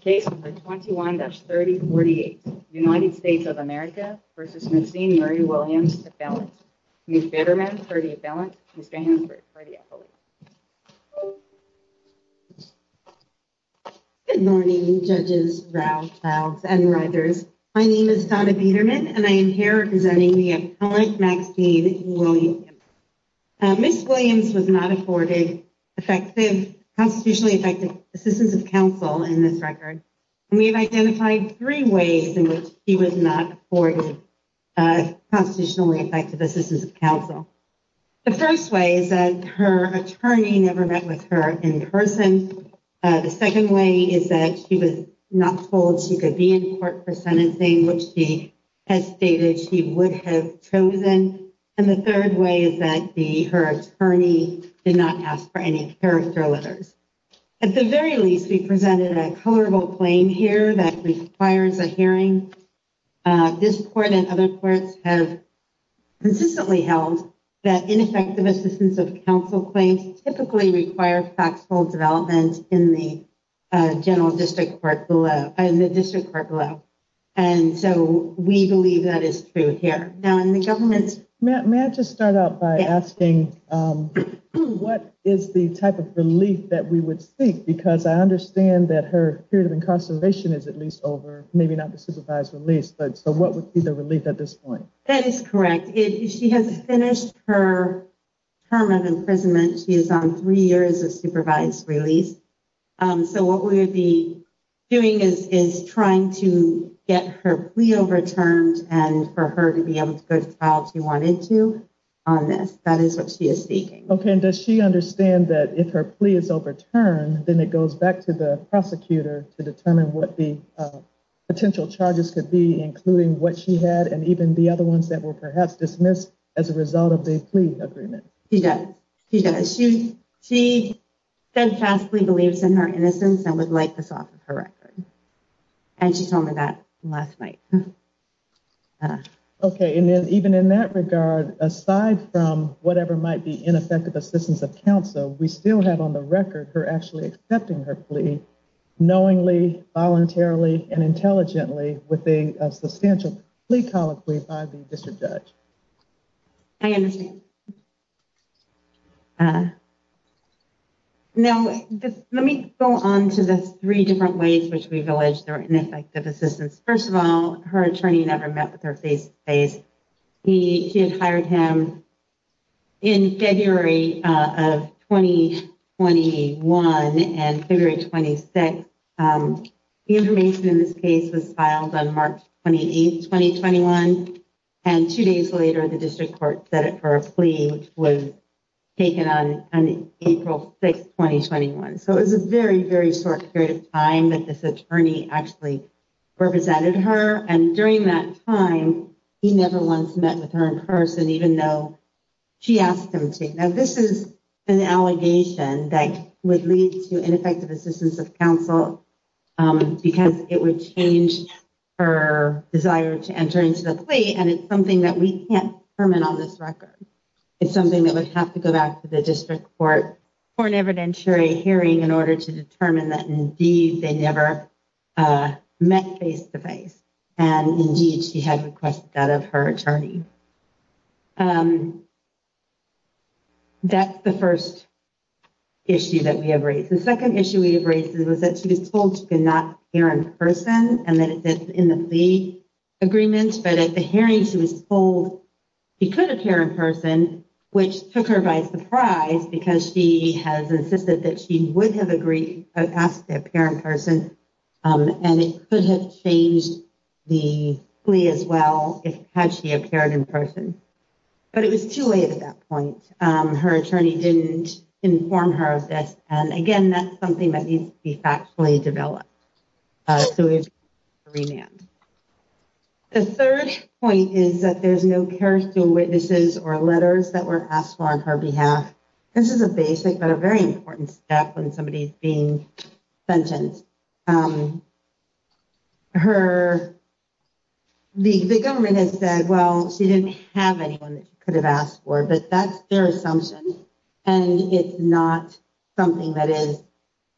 Case No. 21-3048 United States of America v. Maxine Murray-Williams, Appellant Ms. Bitterman for the Appellant, Mr. Hansford for the Appellant Good morning Judges, Rows, Clowns, and Rithers My name is Donna Bitterman and I am here representing the Appellant Maxine Williams Ms. Williams was not afforded effective, constitutionally effective assistance of counsel in this record and we have identified three ways in which she was not afforded constitutionally effective assistance of counsel. The first way is that her attorney never met with her in person. The second way is that she was not told she could be in court for sentencing, which she has stated she would have chosen. And the third way is that the her attorney did not ask for any character letters. At the very least, we presented a colorable claim here that requires a hearing. This court and other courts have consistently held that ineffective assistance of counsel claims typically require factual development in the general district court and the district court below. And so we believe that is true here. Now in the government's... May I just start out by asking what is the type of relief that we would seek? Because I understand that her period of incarceration is at least over, maybe not the supervised release, but so what would be the relief at this point? That is correct. She has finished her term of imprisonment. She is on three years of supervised release. So what we would be doing is trying to get her plea overturned and for her to be able to go to trial if she wanted to on this. That is what she is seeking. Okay. And does she understand that if her plea is overturned, then it goes back to the prosecutor to determine what the potential charges could be, including what she had and even the other ones that were perhaps dismissed as a result of the plea agreement. She does. She does. She steadfastly believes in her innocence and would like this off of her record. And she told me that last night. Okay. And then even in that regard, aside from whatever might be ineffective assistance of counsel, we still have on the record her actually accepting her plea knowingly, voluntarily and intelligently with a substantial plea colloquy by the district judge. I understand. Now, let me go on to the three different ways which we've alleged there were ineffective assistance. First of all, her attorney never met with her face to face. She had hired him in February of 2021 and February 26th. The information in this case was filed on March 28th, 2021. And two days later, the district court set it for a plea which was taken on April 6th, 2021. So it was a very, very short period of time that this attorney actually represented her. And during that time, he never once met with her in person, even though she asked him to. Now, this is an allegation that would lead to ineffective assistance of counsel, because it would change her desire to enter into the plea. And it's something that we can't permit on this record. It's something that would have to go back to the district court for an evidentiary hearing in order to determine that indeed they never met face to face. And indeed, she had requested that of her attorney. That's the first issue that we have raised. The second issue we have raised is that she was told she could not appear in person and that it's in the plea agreement. But at the hearing, she was told she could appear in person, which took her by surprise because she has insisted that she would have agreed to appear in person. And it could have changed the plea as well, had she appeared in person. But it was too late at that point. Her attorney didn't inform her of this. And again, that's something that needs to be factually developed. So it's a remand. The third point is that there's no character witnesses or letters that were asked for on her behalf. This is a basic but a very important step when somebody is being sentenced. The government has said, well, she didn't have anyone that she could have asked for, but that's their assumption. And it's not something that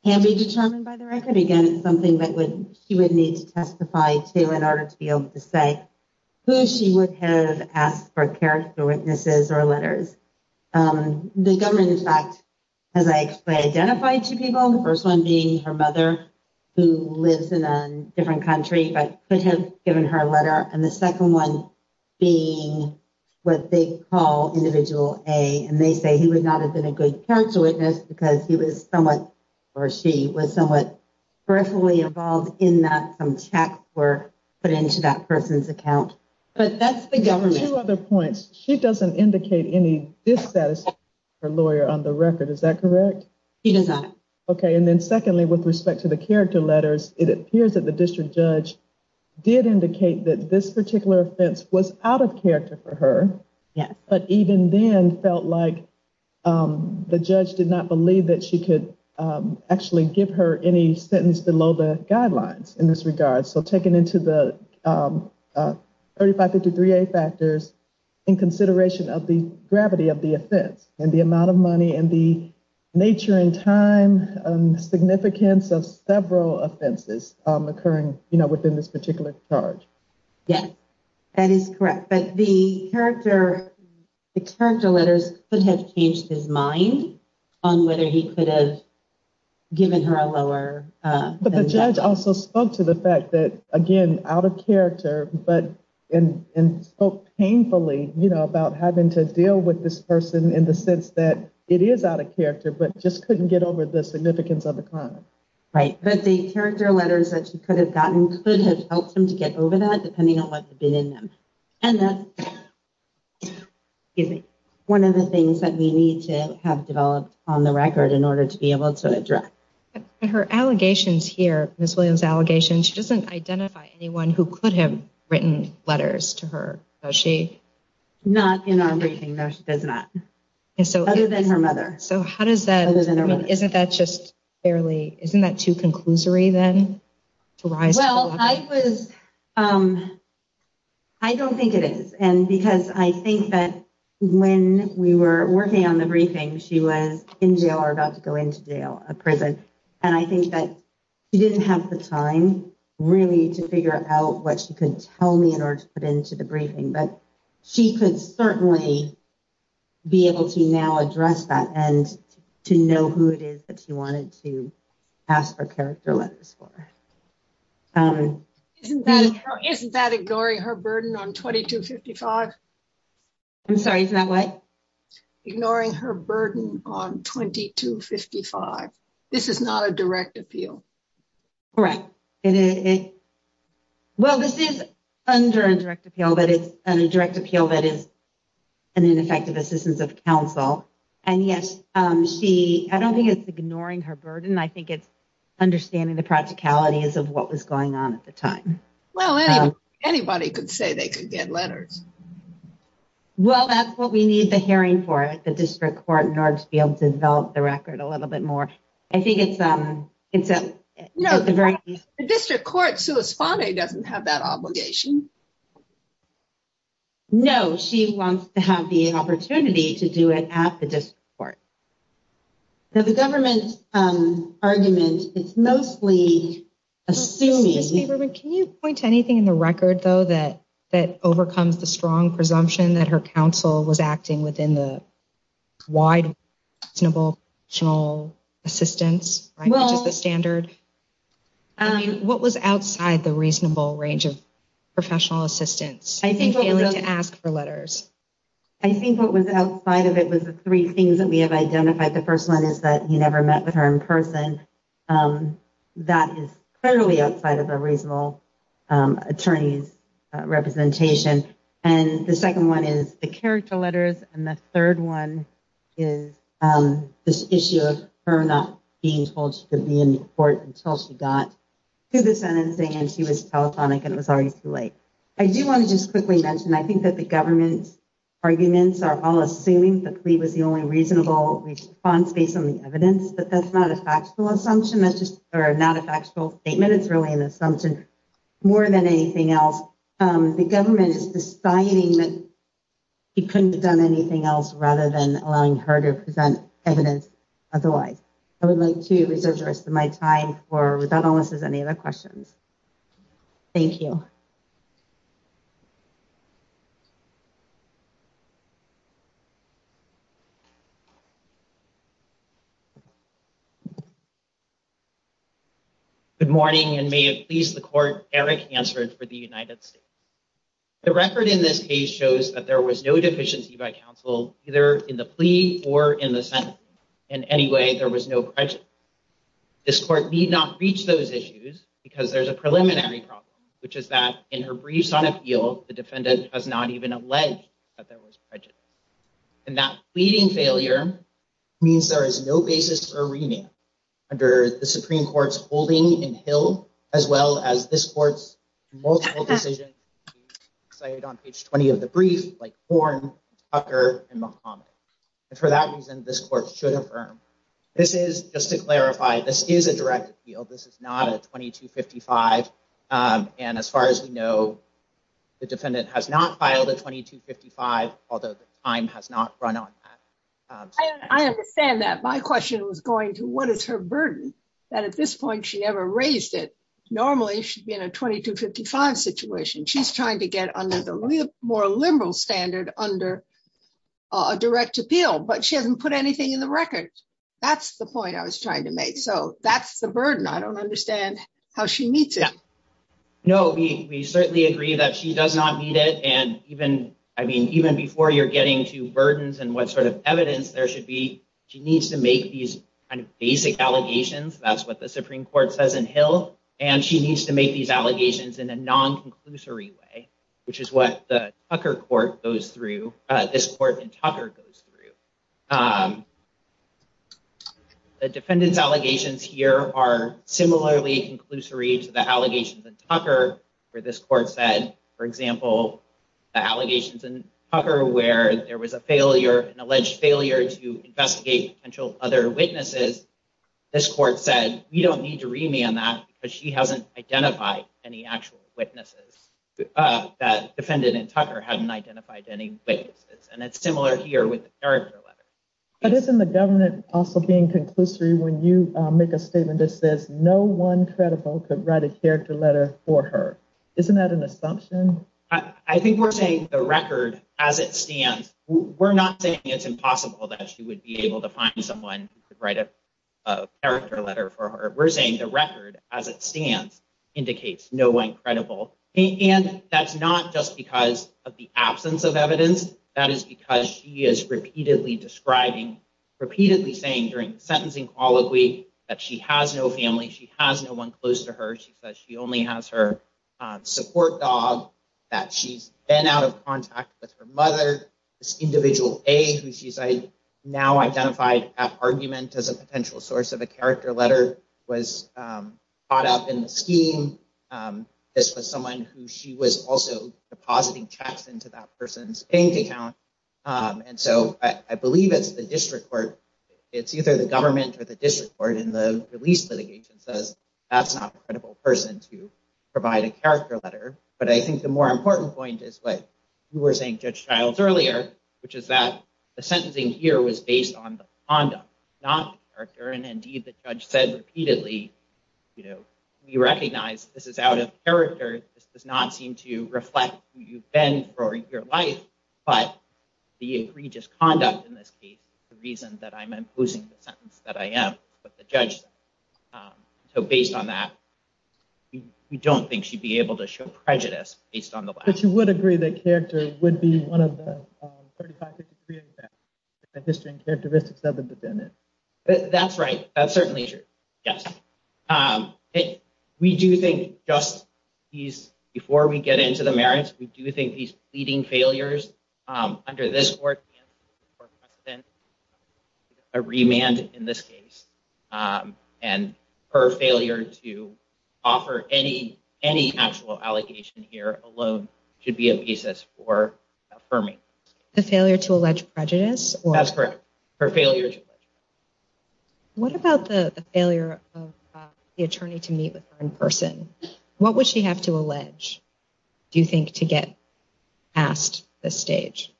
can be determined by the record. Again, it's something that she would need to testify to in order to be able to say who she would have asked for character witnesses or letters. The government, in fact, has actually identified two people. The first one being her mother, who lives in a different country, but could have given her a letter. And the second one being what they call Individual A. And they say he would not have been a good character witness because he was somewhat, or she, was somewhat peripherally involved in that some checks were put into that person's account. But that's the government. Two other points. She doesn't indicate any dissatisfaction with her lawyer on the record. Is that correct? She does not. Okay. And then secondly, with respect to the character letters, it appears that the district judge did indicate that this particular offense was out of character for her. Yes. But even then felt like the judge did not believe that she could actually give her any guidelines in this regard. So taking into the 3553A factors in consideration of the gravity of the offense and the amount of money and the nature and time significance of several offenses occurring within this particular charge. Yes, that is correct. But the character letters could have changed his mind on whether he could have given her a lower... But the judge also spoke to the fact that, again, out of character, but spoke painfully about having to deal with this person in the sense that it is out of character, but just couldn't get over the significance of the crime. Right. But the character letters that she could have gotten could have helped him to get over that depending on what had been in them. And that's one of the things that we need to have on the record in order to be able to address. Her allegations here, Ms. Williams' allegations, she doesn't identify anyone who could have written letters to her, does she? Not in our briefing, no, she does not. Other than her mother. So how does that... I mean, isn't that just fairly... Isn't that too conclusory then? Well, I was... I don't think it is. And because I think that when we were working on the briefing, she was in jail or about to go into jail, a prison, and I think that she didn't have the time really to figure out what she could tell me in order to put into the briefing. But she could certainly be able to now address that and to know who it is that she wanted to ask for character letters for. Isn't that ignoring her burden on 2255? I'm sorry, is that what? Ignoring her burden on 2255. This is not a direct appeal. Correct. Well, this is under a direct appeal, but it's a direct appeal that is an ineffective assistance of counsel. And yes, she... I don't think it's ignoring her burden. I think it's understanding the practicalities of what was going on at the time. Well, anybody could say they could get letters. Well, that's what we need the hearing for at the district court in order to be able to develop the record a little bit more. I think it's a very... No, the district court's correspondent doesn't have that obligation. No, she wants to have the opportunity to do it at the district court. Now, the government's argument is mostly assuming... Can you point to anything in the record, though, that overcomes the strong presumption that her counsel was acting within the wide reasonable professional assistance, which is the standard? What was outside the reasonable range of professional assistance? I think what was... Failing to ask for letters. I think what was outside of it was the three things that we have identified. The first one is that he never met with her in person. And that is clearly outside of a reasonable attorney's representation. And the second one is the character letters. And the third one is this issue of her not being told she could be in court until she got to the sentencing and she was telephonic and it was already too late. I do want to just quickly mention, I think that the government's arguments are all assuming that Lee was the only reasonable response based on the evidence. But that's not a factual assumption. That's just not a factual statement. It's really an assumption more than anything else. The government is deciding that he couldn't have done anything else rather than allowing her to present evidence otherwise. I would like to reserve the rest of my time for, without unless there's any other questions. Thank you. Good morning, and may it please the court, Eric Hansford for the United States. The record in this case shows that there was no deficiency by counsel, either in the plea or in the sentence. In any way, there was no prejudice. This court need not reach those issues because there's a preliminary problem, which is that in her briefs on appeal, the defendant has not even alleged that there was prejudice. And that pleading failure means there is no basis for remand under the Supreme Court's holding in Hill, as well as this court's multiple decisions cited on page 20 of the brief, like Horne, Tucker, and Muhammad. And for that reason, this court should affirm. This is, just to clarify, this is a direct appeal. This is not a 2255. And as far as we know, the defendant has not filed a 2255, although the time has not run on that. I understand that. My question was going to what is her burden? That at this point, she never raised it. Normally, she'd be in a 2255 situation. She's trying to get under the more liberal standard under a direct appeal, but she hasn't put anything in the record. That's the point I was trying to make. So that's the burden. I don't understand how she meets it. No, we certainly agree that she does not need it. And even, I mean, even before you're getting to burdens and what sort of evidence there should be, she needs to make these kind of basic allegations. That's what the Supreme Court says in Hill. And she needs to make these allegations in a non-conclusory way, which is what the Tucker court goes through, this court in Tucker goes through. The defendant's allegations here are similarly conclusory to the allegations in Tucker where this court said, for example, the allegations in Tucker where there was a failure, an alleged failure to investigate potential other witnesses. This court said, we don't need to remand that because she hasn't identified any actual witnesses, that defendant in Tucker hadn't identified any witnesses. And it's similar here with the character letter. But isn't the government also being conclusory when you make a statement that says no one credible could write a character letter for her. Isn't that an assumption? I think we're saying the record as it stands, we're not saying it's impossible that she would be able to find someone who could write a character letter for her. We're saying the record as it stands indicates no one credible. And that's not just because of the absence of evidence. That is because she is repeatedly describing, repeatedly saying during the sentencing colloquy that she has no family. She has no one close to her. She says she only has her support dog, that she's been out of contact with her mother. This individual A who she's now identified at argument as a potential source of a character letter was caught up in the scheme. This was someone who she was also depositing checks into that person's bank account. And so I believe it's the district court. It's either the government or the district court in the release litigation says that's not a credible person to provide a character letter. But I think the more important point is what you were saying, Judge Childs, earlier, which is that the sentencing here was based on the conduct, not the character. And indeed, the judge said repeatedly, we recognize this is out of character. This does not seem to reflect who you've been for your life. But the egregious conduct in this case is the reason that I'm imposing the sentence that I am, what the judge said. So based on that, we don't think she'd be able to show prejudice based on the letter. But you would agree that character would be one of the 35, 53 attacks, the history and characteristics of the defendant. That's right. That's certainly true. Yes. We do think just before we get into the merits, we do think these pleading failures under this court, a remand in this case and her failure to offer any actual allegation here alone should be a basis for affirming. The failure to allege prejudice? That's correct. Her failure to allege prejudice. What about the failure of the attorney to meet with her in person? What would she have to allege, do you think, to get past this stage?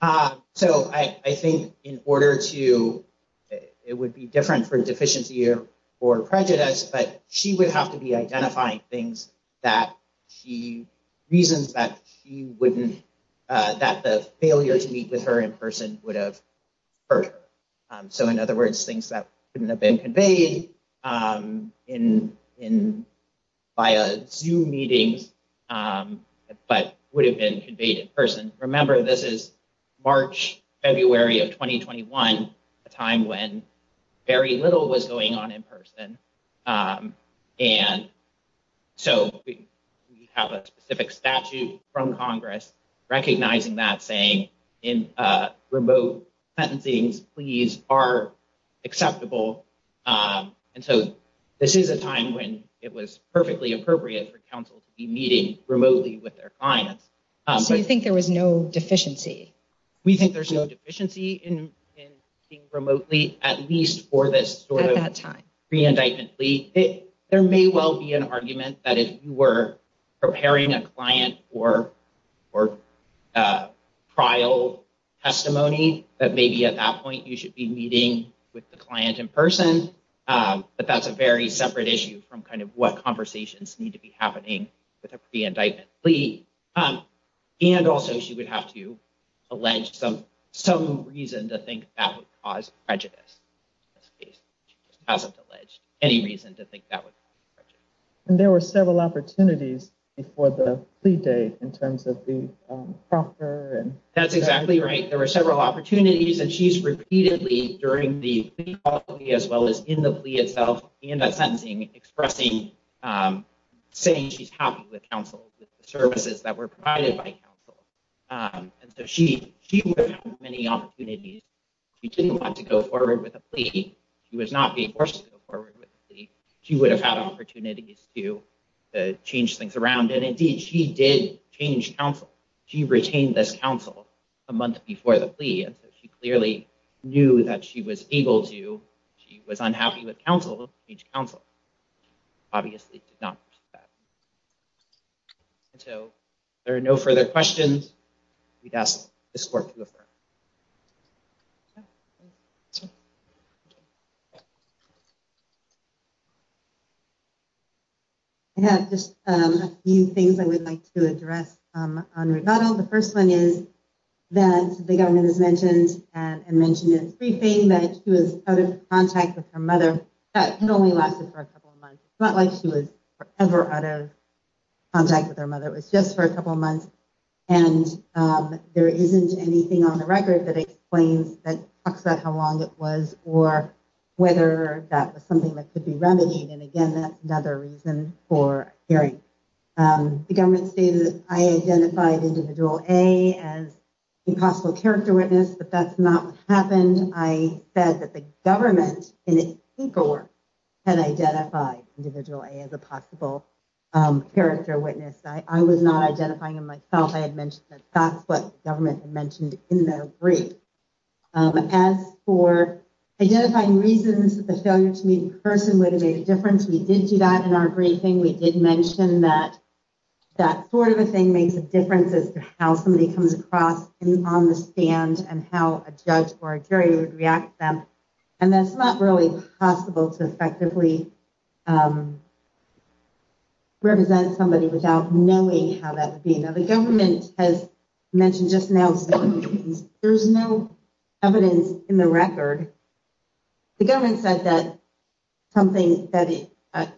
So I think in order to, it would be different for deficiency or prejudice, but she would have to be identifying things that she, reasons that she wouldn't, that the failure to meet with her in person would have hurt her. So in other words, things that wouldn't have been conveyed via Zoom meetings, but would have been conveyed in person. Remember, this is March, February of 2021, a time when very little was going on in person. And so we have a specific statute from Congress recognizing that saying in remote sentencing, pleas are acceptable. And so this is a time when it was perfectly appropriate for counsel to be meeting remotely with their clients. So you think there was no deficiency? We think there's no deficiency in being remotely, at least for this sort of pre-indictment plea. There may well be an argument that if you were preparing a client for trial testimony, that maybe at that point you should be meeting with the client in person. But that's a very separate issue from kind of what conversations need to be happening with a pre-indictment plea. And also, she would have to allege some reason to think that would cause prejudice. In this case, she just hasn't alleged any reason to think that would cause prejudice. And there were several opportunities before the plea date in terms of the proctor and- That's exactly right. There were several opportunities. And she's repeatedly, during the plea as well as in the plea itself and at sentencing, expressing, saying she's happy with counsel, with the services that were provided by counsel. And so she would have had many opportunities. She didn't want to go forward with a plea. She was not being forced to go forward with a plea. She would have had opportunities to change things around. And indeed, she did change counsel. She retained this counsel a month before the plea. And so she clearly knew that she was able to. She was unhappy with counsel, with each counsel. She obviously did not pursue that. And so if there are no further questions, we'd ask this court to affirm. I have just a few things I would like to address on rebuttal. The first one is that the governor has mentioned and mentioned in his briefing that she was out of contact with her mother. That only lasted for a couple of months. It's not like she was ever out of contact with her mother. It was just for a couple of months. And there isn't anything on the record that explains, that talks about how long it was or whether that was something that could be remedied. And again, that's another reason for hearing. The government stated that I identified individual A as a possible character witness, but that's not what happened. I said that the government, in its paperwork, had identified individual A as a possible character witness. I was not identifying him myself. I had mentioned that. That's what the government had mentioned in their brief. As for identifying reasons that the failure to meet in person would have made a difference, we did do that in our briefing. We did mention that that sort of a thing makes a difference as to how somebody comes across on the stand and how a judge or a jury would react to them. And that's not really possible to effectively represent somebody without knowing how that would be. Now, the government has mentioned just now, there's no evidence in the record. The government said that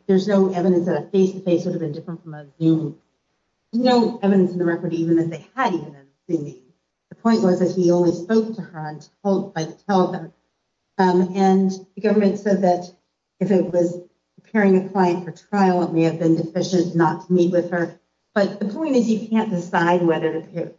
there's no evidence that a face-to-face would have been different from a Zoom. No evidence in the record even that they had even seen me. The point was that he only spoke to her and told her to tell them. And the government said that if it was preparing a client for trial, it may have been deficient not to meet with her. But the point is you can't decide whether you're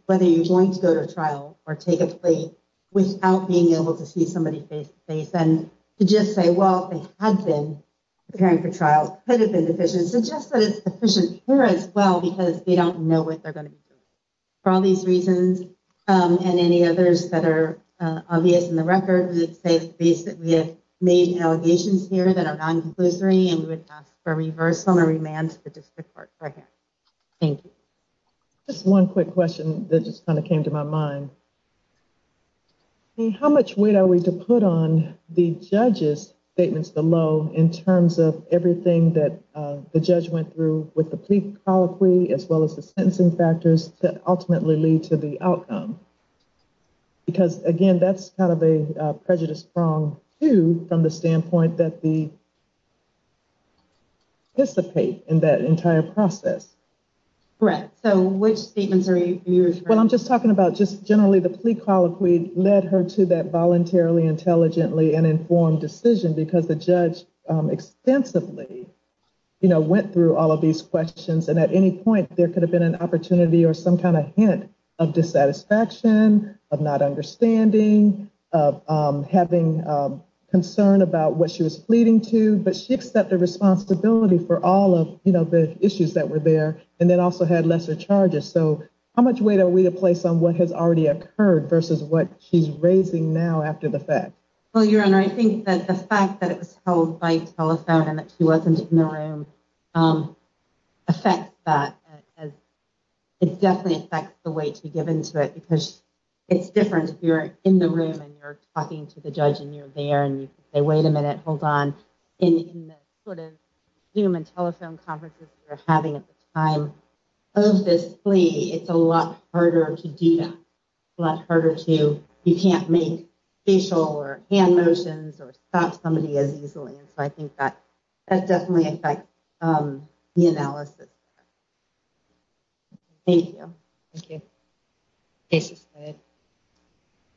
going to go to a trial or take a plea without being able to see somebody face-to-face. And to just say, well, they had been preparing for trial, could have been deficient, suggests that it's deficient here as well, because they don't know what they're going to be doing. For all these reasons and any others that are obvious in the record, it's safe to say that we have made allegations here that are non-conclusory, and we would ask for reversal and remand to the district court right here. Thank you. Just one quick question that just kind of came to my mind. How much weight are we to put on the judge's statements below in terms of everything that the judge went through with the plea colloquy, as well as the sentencing factors that ultimately lead to the outcome? Because, again, that's kind of a prejudice prong, too, from the standpoint that we anticipate in that entire process. Correct. So which statements are used? Well, I'm just talking about just generally the plea colloquy led her to that voluntarily, intelligently, and informed decision, because the judge extensively went through all of these questions. And at any point, there could have been an opportunity or some kind of hint of dissatisfaction, of not understanding, of having concern about what she was pleading to. But she accepted responsibility for all of the issues that were there, and then also had lesser charges. So how much weight are we to place on what has already occurred versus what she's raising now after the fact? Well, Your Honor, I think that the fact that it was held by telephone and that she wasn't in the room affects that. It definitely affects the weight to be given to it, because it's different if you're in the room and you're talking to the judge and you're there and you say, wait a minute, hold on. In the sort of Zoom and telephone conferences we're having at the time of this plea, it's a lot harder to do that. It's a lot harder to, you can't make facial or hand motions or stop somebody as easily. And so I think that definitely affects the analysis. Thank you.